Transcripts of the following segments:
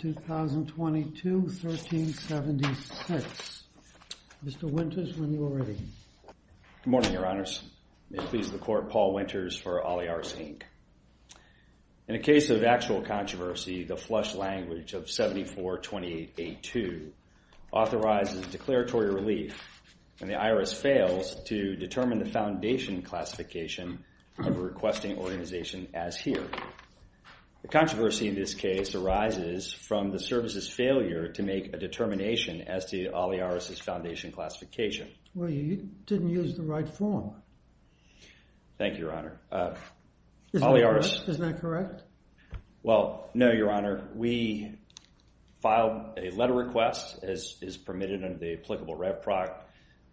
2022, 1376. Mr. Winters, when you are ready. Good morning, Your Honors. It pleases the Court, Paul Winters for Olliars, Inc. In a case of actual controversy, the flush language of 74-28-82 authorizes declaratory relief, and the IRS fails to determine the foundation classification of a requesting organization as here. The controversy in this case arises from the service's failure to make a determination as to Olliars' foundation classification. Well, you didn't use the right form. Thank you, Your Honor. Is that correct? Well, no, Your Honor. We filed a letter of request, as is permitted under the Applicable Rep Proc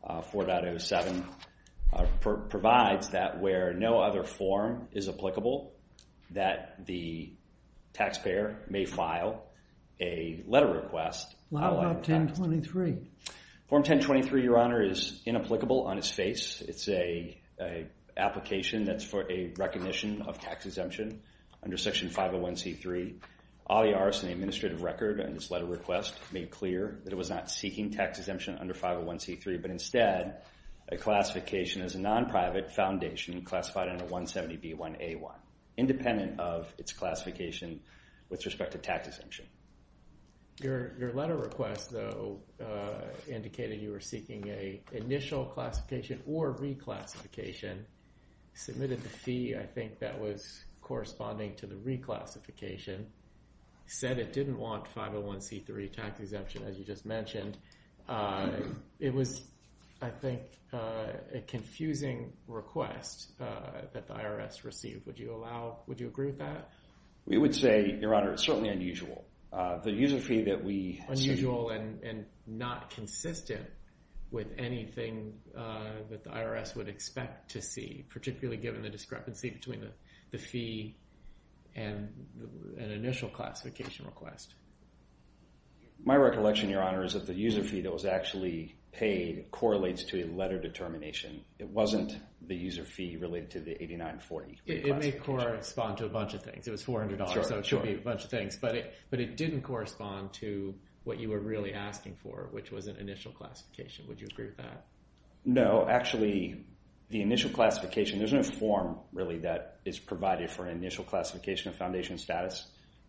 4.07, provides that where no other form is applicable, that the taxpayer may file a letter of request. How about 1023? Form 1023, Your Honor, is inapplicable on its face. It's an application that's for a recognition of tax exemption under Section 501c3. Olliars, in the administrative record, in this letter of request, made clear that it was not seeking tax exemption under 501c3, but instead, a classification as a non-private foundation classified under 170b1a1, independent of its classification with respect to tax exemption. Your letter of request, though, indicated you were seeking an initial classification or reclassification. Submitted the fee, I think, that was corresponding to the reclassification. Said it didn't want 501c3 tax exemption, as you just mentioned. It was, I think, a confusing request that the IRS received. Would you allow, would you agree with that? We would say, Your Honor, the user fee that we... Unusual and not consistent with anything that the IRS would expect to see, particularly given the discrepancy between the fee and an initial classification request. My recollection, Your Honor, is that the user fee that was actually paid correlates to a letter determination. It wasn't the user fee related to the 8940. It may correspond to a bunch of things. It was $400, so it could be a bunch of things, but it didn't correspond to what you were really asking for, which was an initial classification. Would you agree with that? No. Actually, the initial classification, there's no form, really, that is provided for an initial classification of foundation status,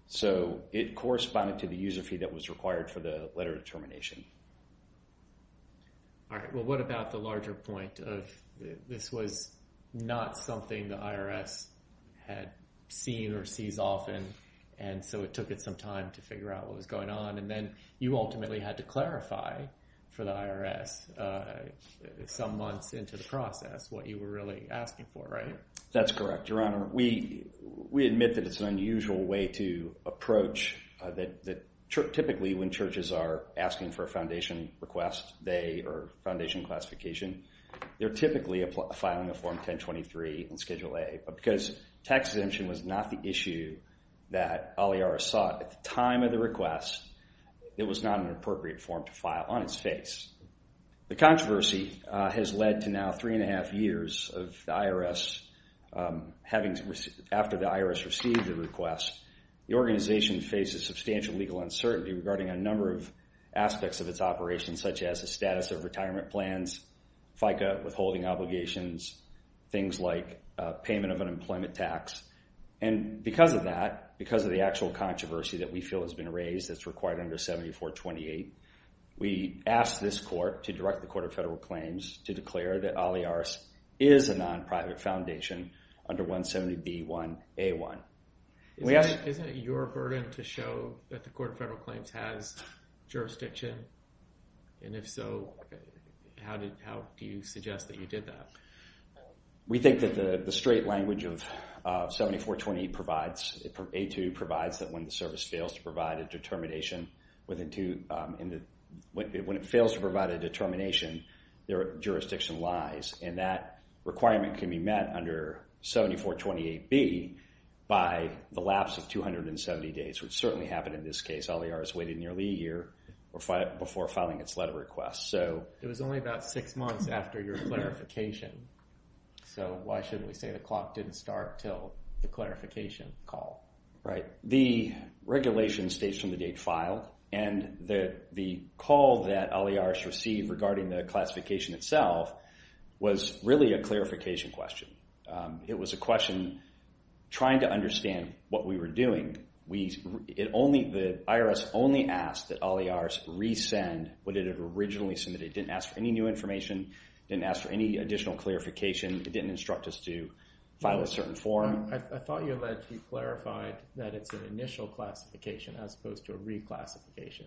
so it corresponded to the user fee that was required for the letter determination. All right. Well, what about the larger point of this was not something the IRS had seen or sees often, and so it took it some time to figure out what was going on, and then you ultimately had to clarify for the IRS some months into the process what you were really asking for, right? That's correct, Your Honor. We admit that it's an unusual way to approach that typically when churches are asking for a foundation request, they, or foundation classification, they're typically filing a Form 1023 in Schedule A, but because tax exemption was not the issue that Aliara sought at the time of the request, it was not an appropriate form to file on its face. The controversy has led to now three and a half years of the IRS, after the IRS received the request, the organization faces substantial legal uncertainty regarding a number of aspects of its operations, such as the status of retirement plans, FICA withholding obligations, things like payment of unemployment tax, and because of that, because of the actual controversy that we feel has been raised that's required under 7428, we asked this court to direct the Court of Federal Claims to declare that Aliara is a non-private foundation under 170B1A1. Isn't it your burden to show that the Court of Federal How do you suggest that you did that? We think that the straight language of 7428 provides, it provides that when the service fails to provide a determination within two, when it fails to provide a determination, their jurisdiction lies, and that requirement can be met under 7428B by the lapse of 270 days, which certainly happened in this case. Aliara has waited nearly a year before filing its letter request, so. It was only about six months after your clarification, so why shouldn't we say the clock didn't start till the clarification call? Right. The regulation states from the date filed and the call that Aliara received regarding the classification itself was really a clarification question. It was a question trying to understand what we were doing. We, it only, the IRS only asked that Aliara resend what it had originally submitted. It didn't ask for any new information, didn't ask for any additional clarification, it didn't instruct us to file a certain form. I thought you alleged, you clarified that it's an initial classification as opposed to a reclassification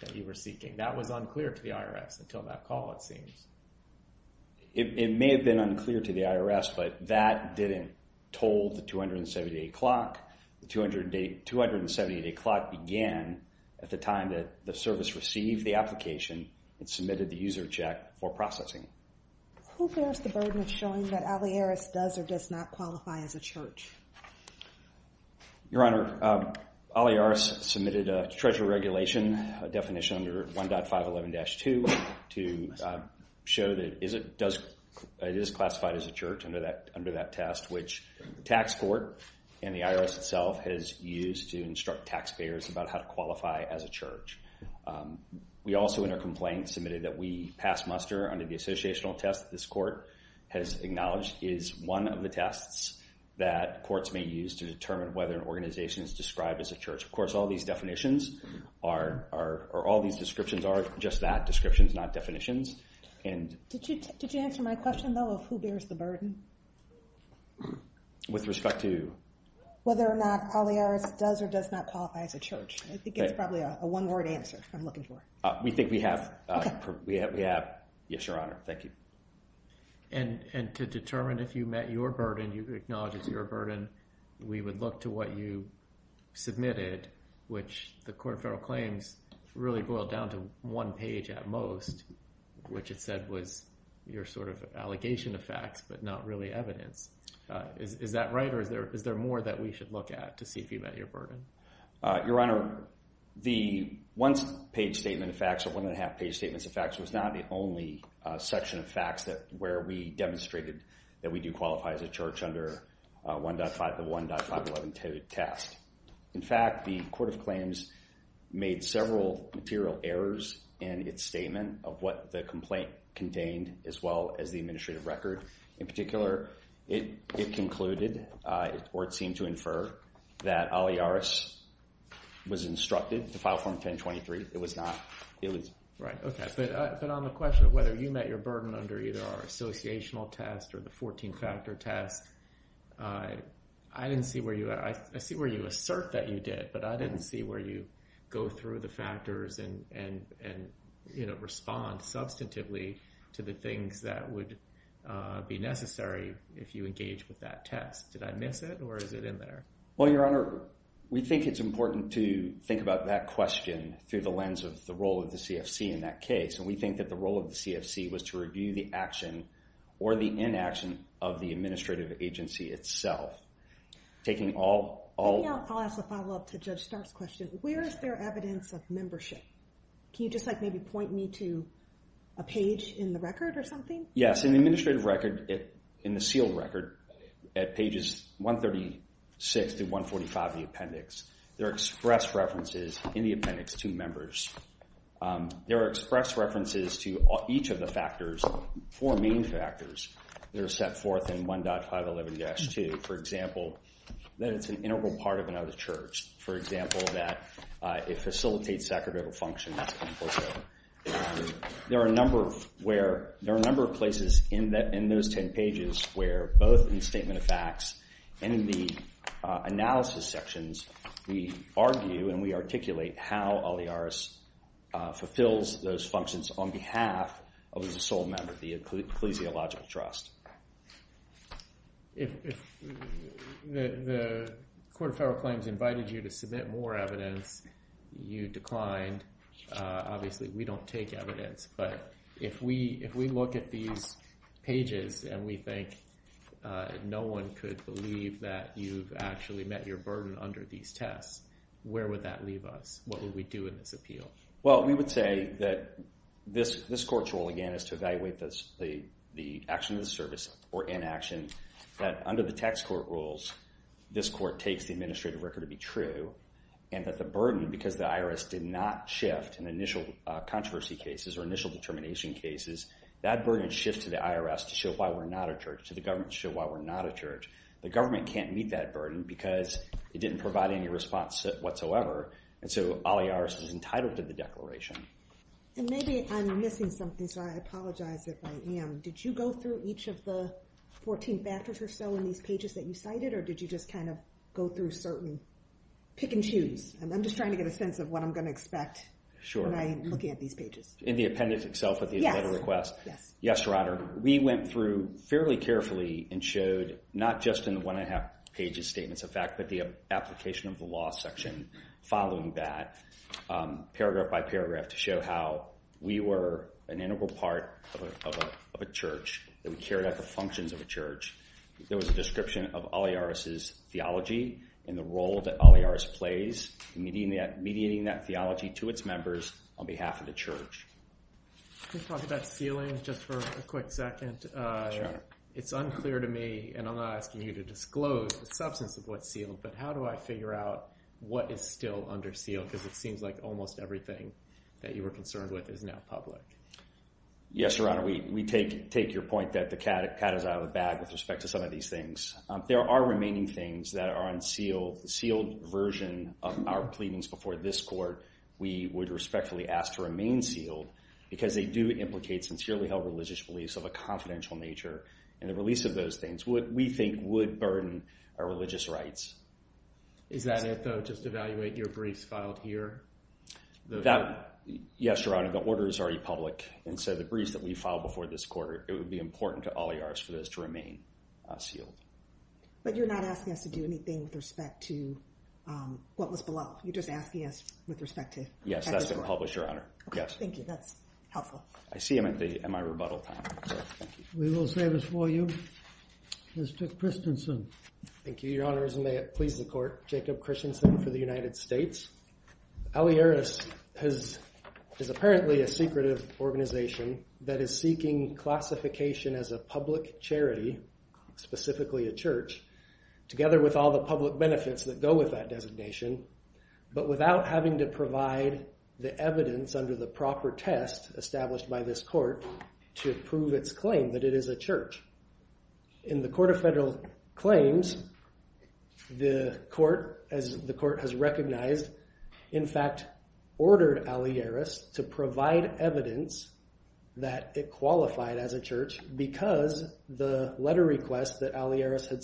that you were seeking. That was unclear to the IRS until that call, it seems. It may have been unclear to the IRS, but that didn't toll the 270 day clock. The 270 day clock began at the time that the service received the application and submitted the user check for processing. Who bears the burden of showing that Aliara does or does not qualify as a church? Your Honor, Aliara submitted a treasurer regulation, a definition under 1.511-2 to show that it is classified as a church under that test, which the tax court and the tax payers about how to qualify as a church. We also in our complaint submitted that we pass muster under the associational test that this court has acknowledged is one of the tests that courts may use to determine whether an organization is described as a church. Of course, all these definitions are, or all these descriptions are just that, descriptions not definitions. Did you, did you answer my question though of who bears the burden? With respect to? Whether or not Aliara does or does not qualify as a church. I think it's probably a one word answer I'm looking for. We think we have, we have, we have. Yes, Your Honor. Thank you. And, and to determine if you met your burden, you acknowledge it's your burden, we would look to what you submitted, which the court of federal claims really boiled down to is, is that right? Or is there, is there more that we should look at to see if you met your burden? Your Honor, the one page statement of facts or one and a half page statements of facts was not the only section of facts that, where we demonstrated that we do qualify as a church under 1.5, the 1.511-2 test. In fact, the court of claims made several material errors in its complaint contained as well as the administrative record. In particular, it concluded or it seemed to infer that Aliara was instructed to file form 1023. It was not, it was. Right, okay. But on the question of whether you met your burden under either our associational test or the 14-factor test, I didn't see where you, I see where you assert that you did, but I didn't see where you go through the factors and, and, and, you know, respond substantively to the things that would be necessary if you engage with that test. Did I miss it or is it in there? Well, Your Honor, we think it's important to think about that question through the lens of the role of the CFC in that case. And we think that the role of the CFC was to review the action or the inaction of the administrative agency itself. Taking all, all... Where is there evidence of membership? Can you just like maybe point me to a page in the record or something? Yes, in the administrative record, in the sealed record at pages 136 to 145 of the appendix, there are express references in the appendix to members. There are express references to each of the factors, four main factors that are set forth in 1.511-2. For example, that it's an integral part of another church. For example, that it facilitates sacramental function. There are a number of where, there are a number of places in that, in those 10 pages where both in the statement of facts and in the analysis sections, we argue and we articulate how Oliares fulfills those functions on behalf of the sole member of the ecclesiological trust. If the Court of Federal Claims invited you to submit more evidence, you declined. Obviously, we don't take evidence, but if we look at these pages and we think no one could believe that you've actually met your burden under these tests, where would that leave us? What would we do in this appeal? Well, we would say that this court's role, again, is to evaluate the action of the service or inaction, that under the tax court rules, this court takes the administrative record to be true, and that the burden, because the IRS did not shift in initial controversy cases or initial determination cases, that burden shifts to the IRS to show why we're not a church, to the government to show why we're not a church. The government can't meet that burden because it didn't provide any response whatsoever, and so Oliares is entitled to the declaration. And maybe I'm missing something, so I apologize if I am. Did you go through each of the 14 factors or so in these pages that you cited, or did you just kind of go through certain pick and choose? I'm just trying to get a sense of what I'm going to expect when I'm looking at these pages. In the appendix itself of the letter request? Yes. Yes, Your Honor. We went through fairly carefully and showed not just in the one and a half pages statements of fact, but the application of the law section following that, paragraph by paragraph, to show how we were an integral part of a church, that we carried out the functions of a church. There was a description of Oliares' theology and the role that Oliares plays in mediating that theology to its members on behalf of the church. Can we talk about sealing just for a quick second? It's unclear to me, and I'm not asking you to disclose the substance of what's sealed, but how do I figure out what is still under seal? Because it seems like almost everything that you were concerned with is now public. Yes, Your Honor. We take your point that the cat is out of the bag with respect to some of these things. There are remaining things that are unsealed. The sealed version of our pleadings before this court, we would respectfully ask to remain sealed because they do implicate sincerely held religious beliefs of a confidential nature, and the release of those things we think would burden our religious rights. Is that it, though, just evaluate your briefs filed here? Yes, Your Honor. The order is already public, and so the briefs that we filed before this quarter, it would be important to Oliares for those to remain sealed. But you're not asking us to do anything with respect to what was below. You're just asking us with respect to... Yes, that's published, Your Honor. Okay, thank you. That's helpful. I see him at my rebuttal time. We will save this for you. Mr. Christensen. Thank you, Your Honors, and may it please the court. Jacob Christensen for the United States. Oliares is apparently a secretive organization that is seeking classification as a public charity, specifically a church, together with all the evidence under the proper test established by this court to prove its claim that it is a church. In the Court of Federal Claims, the court, as the court has recognized, in fact, ordered Oliares to provide evidence that it qualified as a church because the letter request that Oliares had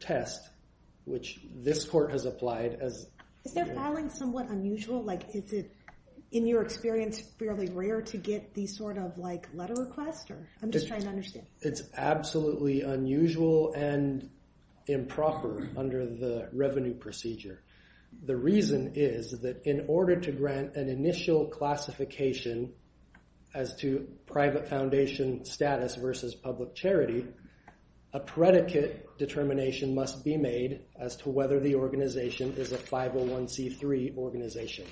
test, which this court has applied as... Is their filing somewhat unusual? Is it, in your experience, fairly rare to get these sort of letter requests, or... I'm just trying to understand. It's absolutely unusual and improper under the revenue procedure. The reason is that in order to grant an initial classification as to private foundation status versus public charity, a predicate determination must be made as to whether the organization is a 501c3 organization.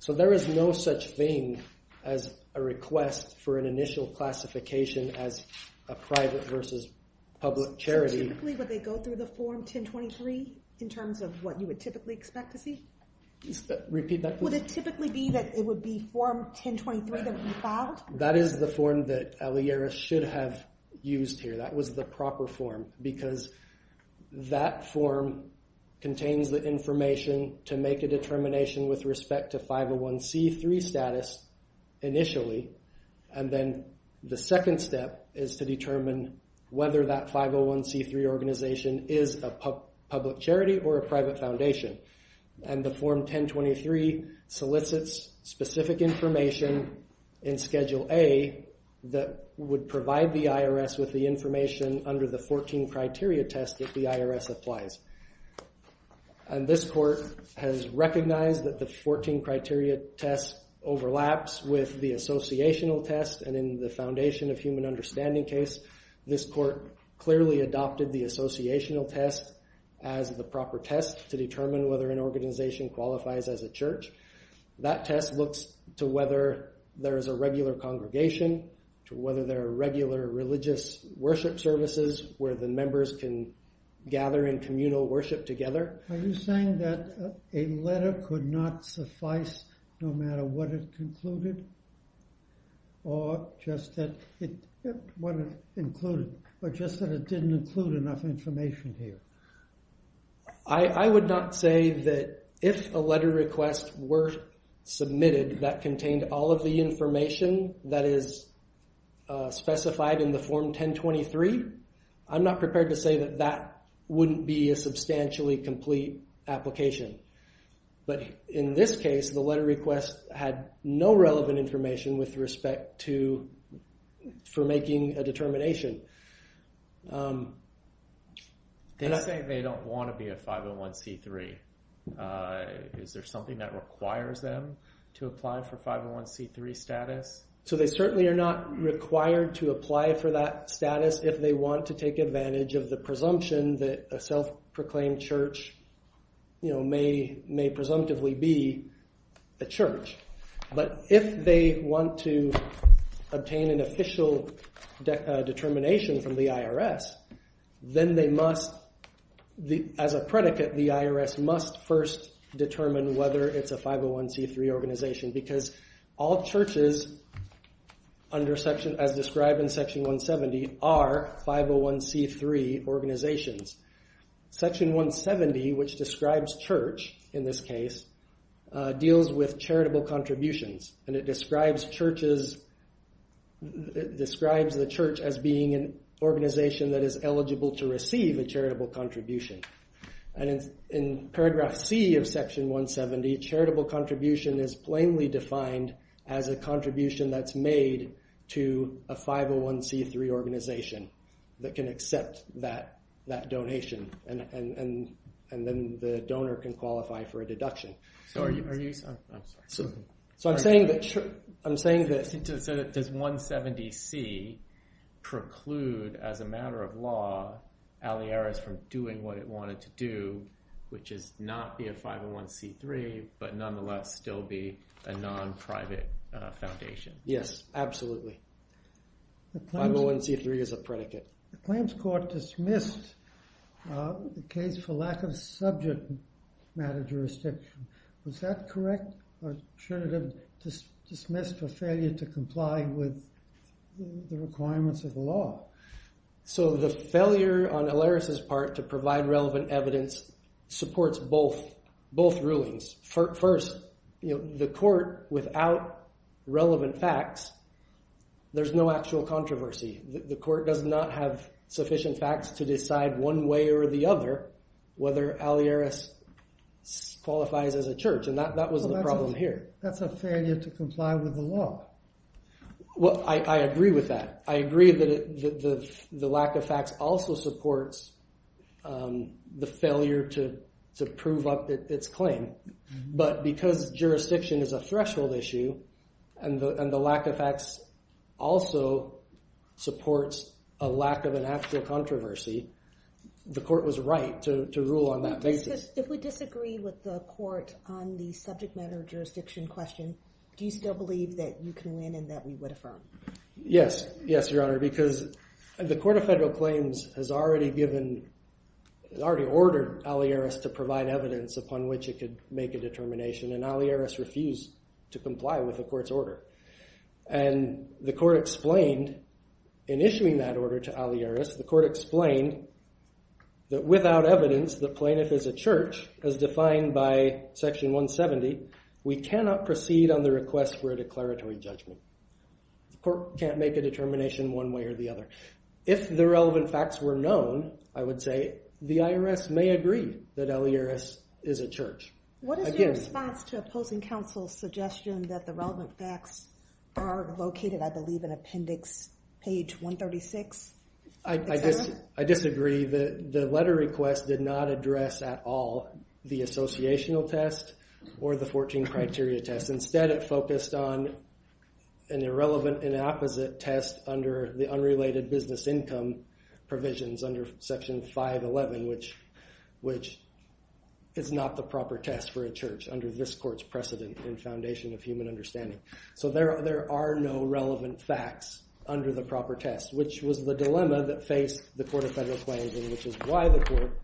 So there is no such thing as a request for an initial classification as a private versus public charity. So typically, would they go through the form 1023 in terms of what you would typically expect to see? Repeat that, please. Would it typically be that it would form 1023 that would be filed? That is the form that Oliares should have used here. That was the proper form because that form contains the information to make a determination with respect to 501c3 status initially, and then the second step is to determine whether that 501c3 organization is a public charity or a private foundation. And the form 1023 solicits specific information in Schedule A that would provide the IRS with the information under the 14-criteria test that the IRS applies. And this court has recognized that the 14-criteria test overlaps with the associational test, and in the foundation of human understanding case, this court clearly adopted the associational test as the proper test to determine whether an organization qualifies as a church. That test looks to whether there is a regular congregation, to whether there are regular religious worship services where the members can gather in communal worship together. Are you saying that a letter could not suffice no matter what it concluded or just that it didn't include enough information here? I would not say that if a letter request were submitted that contained all of the information that is specified in the form 1023, I'm not prepared to say that that wouldn't be a substantially complete application. But in this case, the letter request had no relevant information with respect for making a determination. And I think they don't want to be a 501c3. Is there something that requires them to apply for 501c3 status? So they certainly are not required to apply for that status if they want to take advantage of the presumption that a self-proclaimed church may presumptively be a church. But if they want to obtain an official determination from the IRS, then they must, as a predicate, the IRS must first determine whether it's a 501c3 organization. Because all churches as described in section 170 are 501c3 organizations. Section 170, which describes church in this case, deals with charitable contributions. And it describes the church as being an organization that is eligible to receive a charitable contribution. And in paragraph C of section 170, charitable contribution is plainly defined as a contribution that's made to a 501c3 organization that can accept that donation. And then the donor can qualify for a deduction. So I'm saying that... Does 170c preclude, as a matter of law, Aliera's from doing what it wanted to do, which is not be a 501c3, but nonetheless still be a non-private foundation. Yes, absolutely. 501c3 is a predicate. The claims court dismissed the case for lack of subject matter jurisdiction. Was that correct? Or should it have dismissed for failure to comply with the requirements of the law? So the failure on Aliera's part to provide relevant evidence supports both rulings. First, the court without relevant facts, there's no actual controversy. The court does not have sufficient facts to decide one way or the other whether Aliera qualifies as a church. And that was the problem here. That's a failure to comply with the law. Well, I agree with that. I agree that the lack of facts also supports the failure to prove up its claim. But because jurisdiction is a threshold issue and the lack of facts also supports a lack of an actual controversy, the court was right to rule on that basis. If we disagree with the court on the subject matter jurisdiction question, do you still believe that you can win and that we would affirm? Yes. Yes, Your Honor, because the Court of Federal Claims has already ordered Aliera's to provide evidence upon which it could make a determination. And Aliera's refused to comply with the court's order. And the court explained in issuing that order to Aliera's, the court explained that without evidence, the plaintiff is a church as defined by section 170, we cannot proceed on the request for a declaratory judgment. The court can't make a determination one way or the other. If the relevant facts were known, I would say the IRS may agree that Aliera's is a church. What is your response to opposing counsel's suggestion that the relevant facts are located, I believe, in appendix page 136? I disagree. The letter request did not address at all the associational test or the 14 criteria test. Instead, it focused on an irrelevant and opposite test under the unrelated business income provisions under section 511, which is not the proper test for a church under this court's precedent and foundation of human understanding. So there are no relevant facts under the proper test, which was the dilemma that faced the Court of Federal Claims, and which is why the court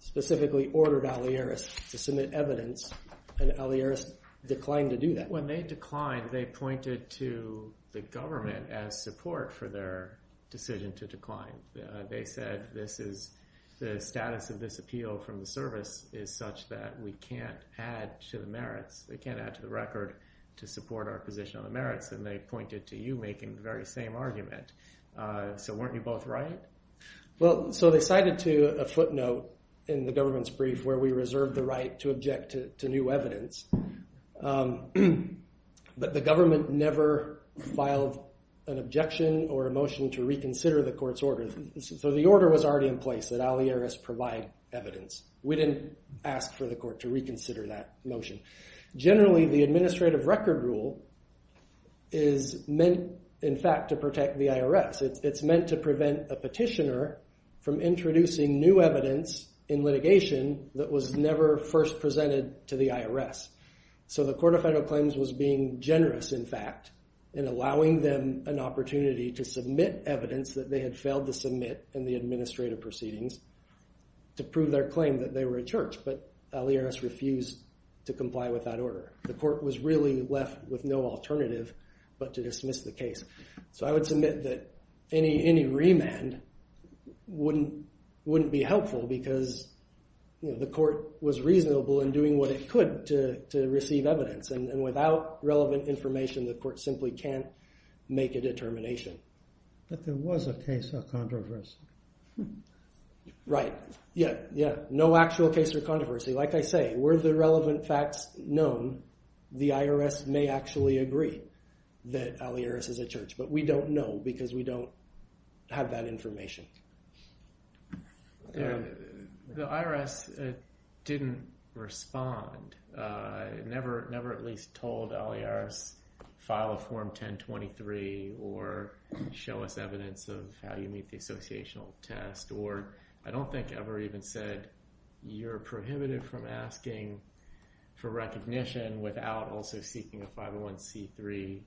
specifically ordered Aliera's to submit evidence. And Aliera's declined to do that. When they declined, they pointed to the government as support for their decision to decline. They said this is the status of this appeal from the service is such that we can't add to the merits. They can't add to the record to support our position on the merits. And they pointed to you making the very same argument. So weren't you both right? Well, so they cited to a footnote in the government's brief where we reserved the right to object to new evidence. But the government never filed an objection or a motion to reconsider the court's order. So the order was already in place that Aliera's provide evidence. We didn't ask for the court to reconsider that motion. Generally, the administrative record rule is meant, in fact, to protect the IRS. It's meant to prevent a petitioner from introducing new evidence in litigation that was never first presented to the IRS. So the Court of Federal Claims was being generous, in fact, in allowing them an opportunity to submit evidence that they had failed to submit in the administrative proceedings to prove their claim that they were a church. But Aliera's refused to comply with that order. The court was really left with no alternative but to dismiss the case. So I would submit that any remand wouldn't be helpful because the court was reasonable in doing what it could to receive evidence. And without relevant information, the court simply can't make a determination. But there was a case of controversy. Right. Yeah, yeah. No actual case of controversy. Like I say, were the relevant facts known, the IRS may actually agree that Aliera's is a church. But we don't know because we don't have that information. The IRS didn't respond, never at least told Aliera's to file Form 1023 or show us evidence of how you meet the associational test or I don't think ever even said you're prohibited from asking for recognition without also seeking a 501c3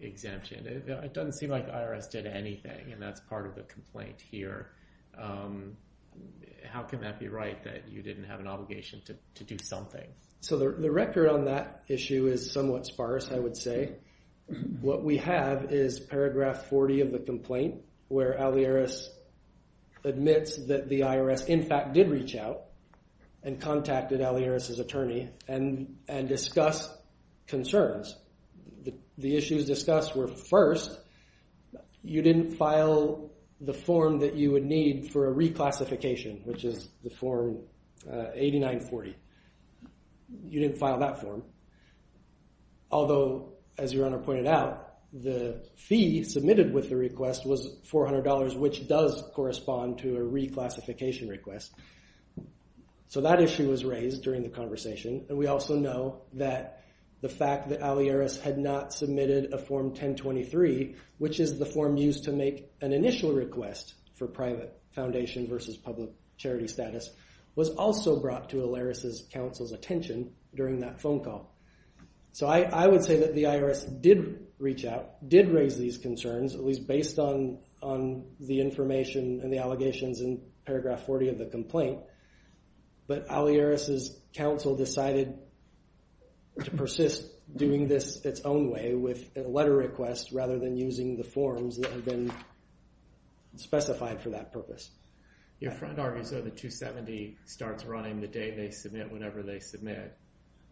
exemption. It doesn't seem like the IRS did anything and that's part of the complaint here. How can that be right that you didn't have an obligation to do something? So the record on that issue is somewhat sparse, I would say. What we have is paragraph 40 of the complaint where Aliera's admits that the IRS in fact did reach out and contacted Aliera's attorney and discussed concerns. The issues discussed were first, you didn't file the form that you would need for a reclassification, which is the form 8940. You didn't file that form. Although as your Honor pointed out, the fee submitted with the request was $400, which does correspond to a reclassification request. So that issue was raised during the conversation and we also know that the fact that Aliera's had not submitted a Form 1023, which is the form used to make an initial request for private foundation versus public charity status, was also brought to Aliera's counsel's attention during that phone call. So I would say that the IRS did reach out, did raise these concerns, at least based on the information and the allegations in paragraph 40 of the complaint. But Aliera's counsel decided to persist doing this its own way with a letter request rather than using the forms that had been submitted. So the 270 starts running the day they submit whenever they submit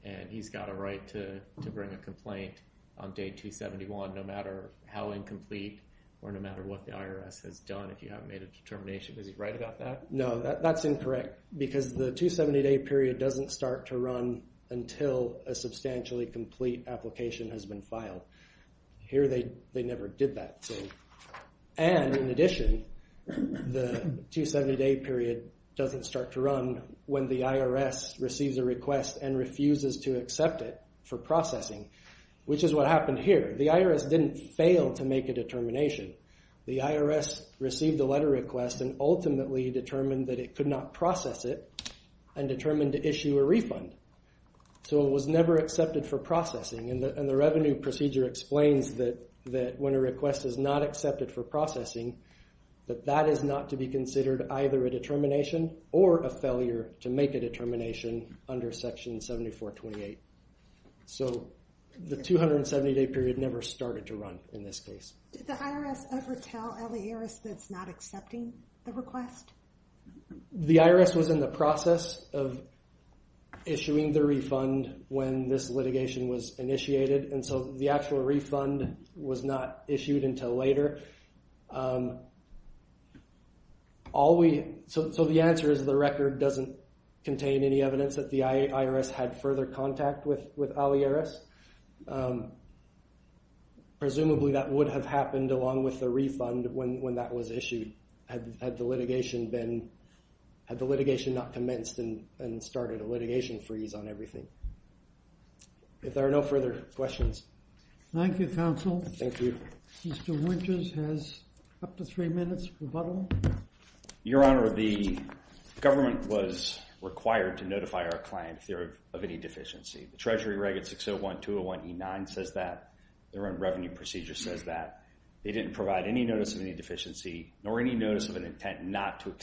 and he's got a right to to bring a complaint on day 271 no matter how incomplete or no matter what the IRS has done if you haven't made a determination. Is he right about that? No, that's incorrect because the 270 day period doesn't start to run until a substantially complete application has been filed. Here they never did that. And in addition, the 270 day period doesn't start to run when the IRS receives a request and refuses to accept it for processing, which is what happened here. The IRS didn't fail to make a determination. The IRS received a letter request and ultimately determined that it could not process it and determined to issue a refund. So it was never accepted for processing and the revenue procedure explains that when a request is not accepted for processing, that that is not to be considered either a determination or a failure to make a determination under section 7428. So the 270 day period never started to run in this case. Did the IRS ever tell Aliera's that's not accepting the request? The IRS was in the process of this litigation was initiated and so the actual refund was not issued until later. So the answer is the record doesn't contain any evidence that the IRS had further contact with Aliera's. Presumably that would have happened along with the refund when that was issued had the litigation not commenced and started a litigation freeze on everything. If there are no further questions. Thank you, counsel. Thank you. Mr. Winters has up to three minutes for rebuttal. Your Honor, the government was required to notify our client if they're of any deficiency. The Treasury Reg. 601201E9 says that. Their own revenue procedure says that. They didn't provide any notice of any deficiency nor any notice of an intent not to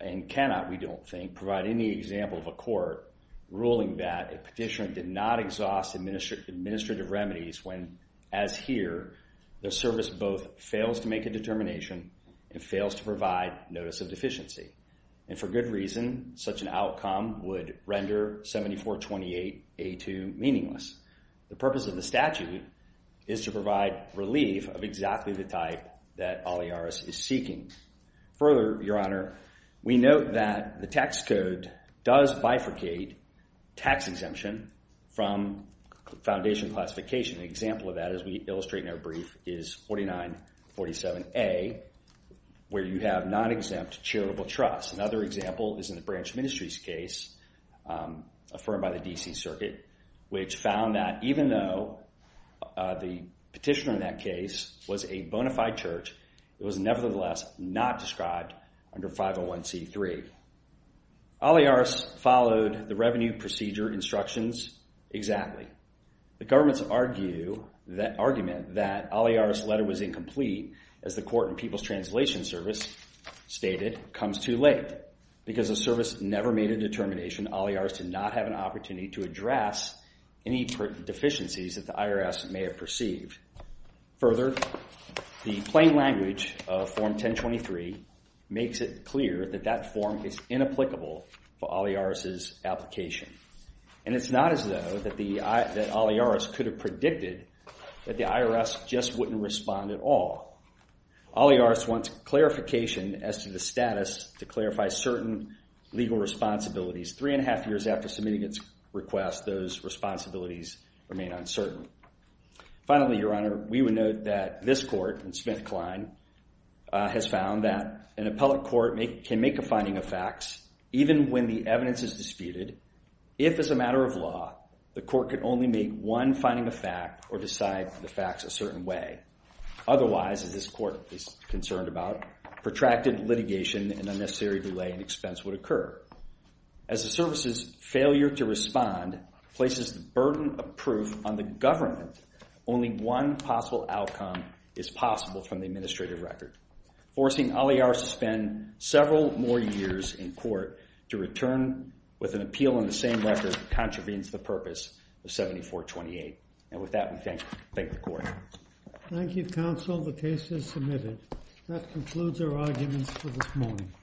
and cannot, we don't think, provide any example of a court ruling that a petitioner did not exhaust administrative remedies when, as here, the service both fails to make a determination and fails to provide notice of deficiency. And for good reason, such an outcome would render 7428A2 meaningless. The purpose of the statute is to provide relief of exactly the type that we note that the tax code does bifurcate tax exemption from foundation classification. An example of that, as we illustrate in our brief, is 4947A, where you have non-exempt charitable trust. Another example is in the Branch Ministries case, affirmed by the D.C. Circuit, which found that even though the petitioner in that case was a bona fide church, it was nevertheless not described under 501C3. Olliars followed the revenue procedure instructions exactly. The government's argument that Olliars' letter was incomplete, as the Court and People's Translation Service stated, comes too late, because the service never made a determination Olliars did not have an opportunity to address any deficiencies that the IRS may have perceived. Further, the plain language of Form 1023 makes it clear that that form is inapplicable for Olliars' application. And it's not as though that Olliars could have predicted that the IRS just wouldn't respond at all. Olliars wants clarification as to the status to clarify certain legal responsibilities. Three and a half years after submitting its request, those responsibilities remain uncertain. Finally, Your Honor, we would note that this Court, in Smith-Klein, has found that an appellate court can make a finding of facts, even when the evidence is disputed, if, as a matter of law, the Court could only make one finding of fact or decide the facts a certain way. Otherwise, as this Court is concerned about, protracted litigation and places the burden of proof on the government, only one possible outcome is possible from the administrative record. Forcing Olliars to spend several more years in court to return with an appeal on the same record contravenes the purpose of 7428. And with that, we thank the Court. Thank you, counsel. The case is submitted. That concludes our arguments for this morning.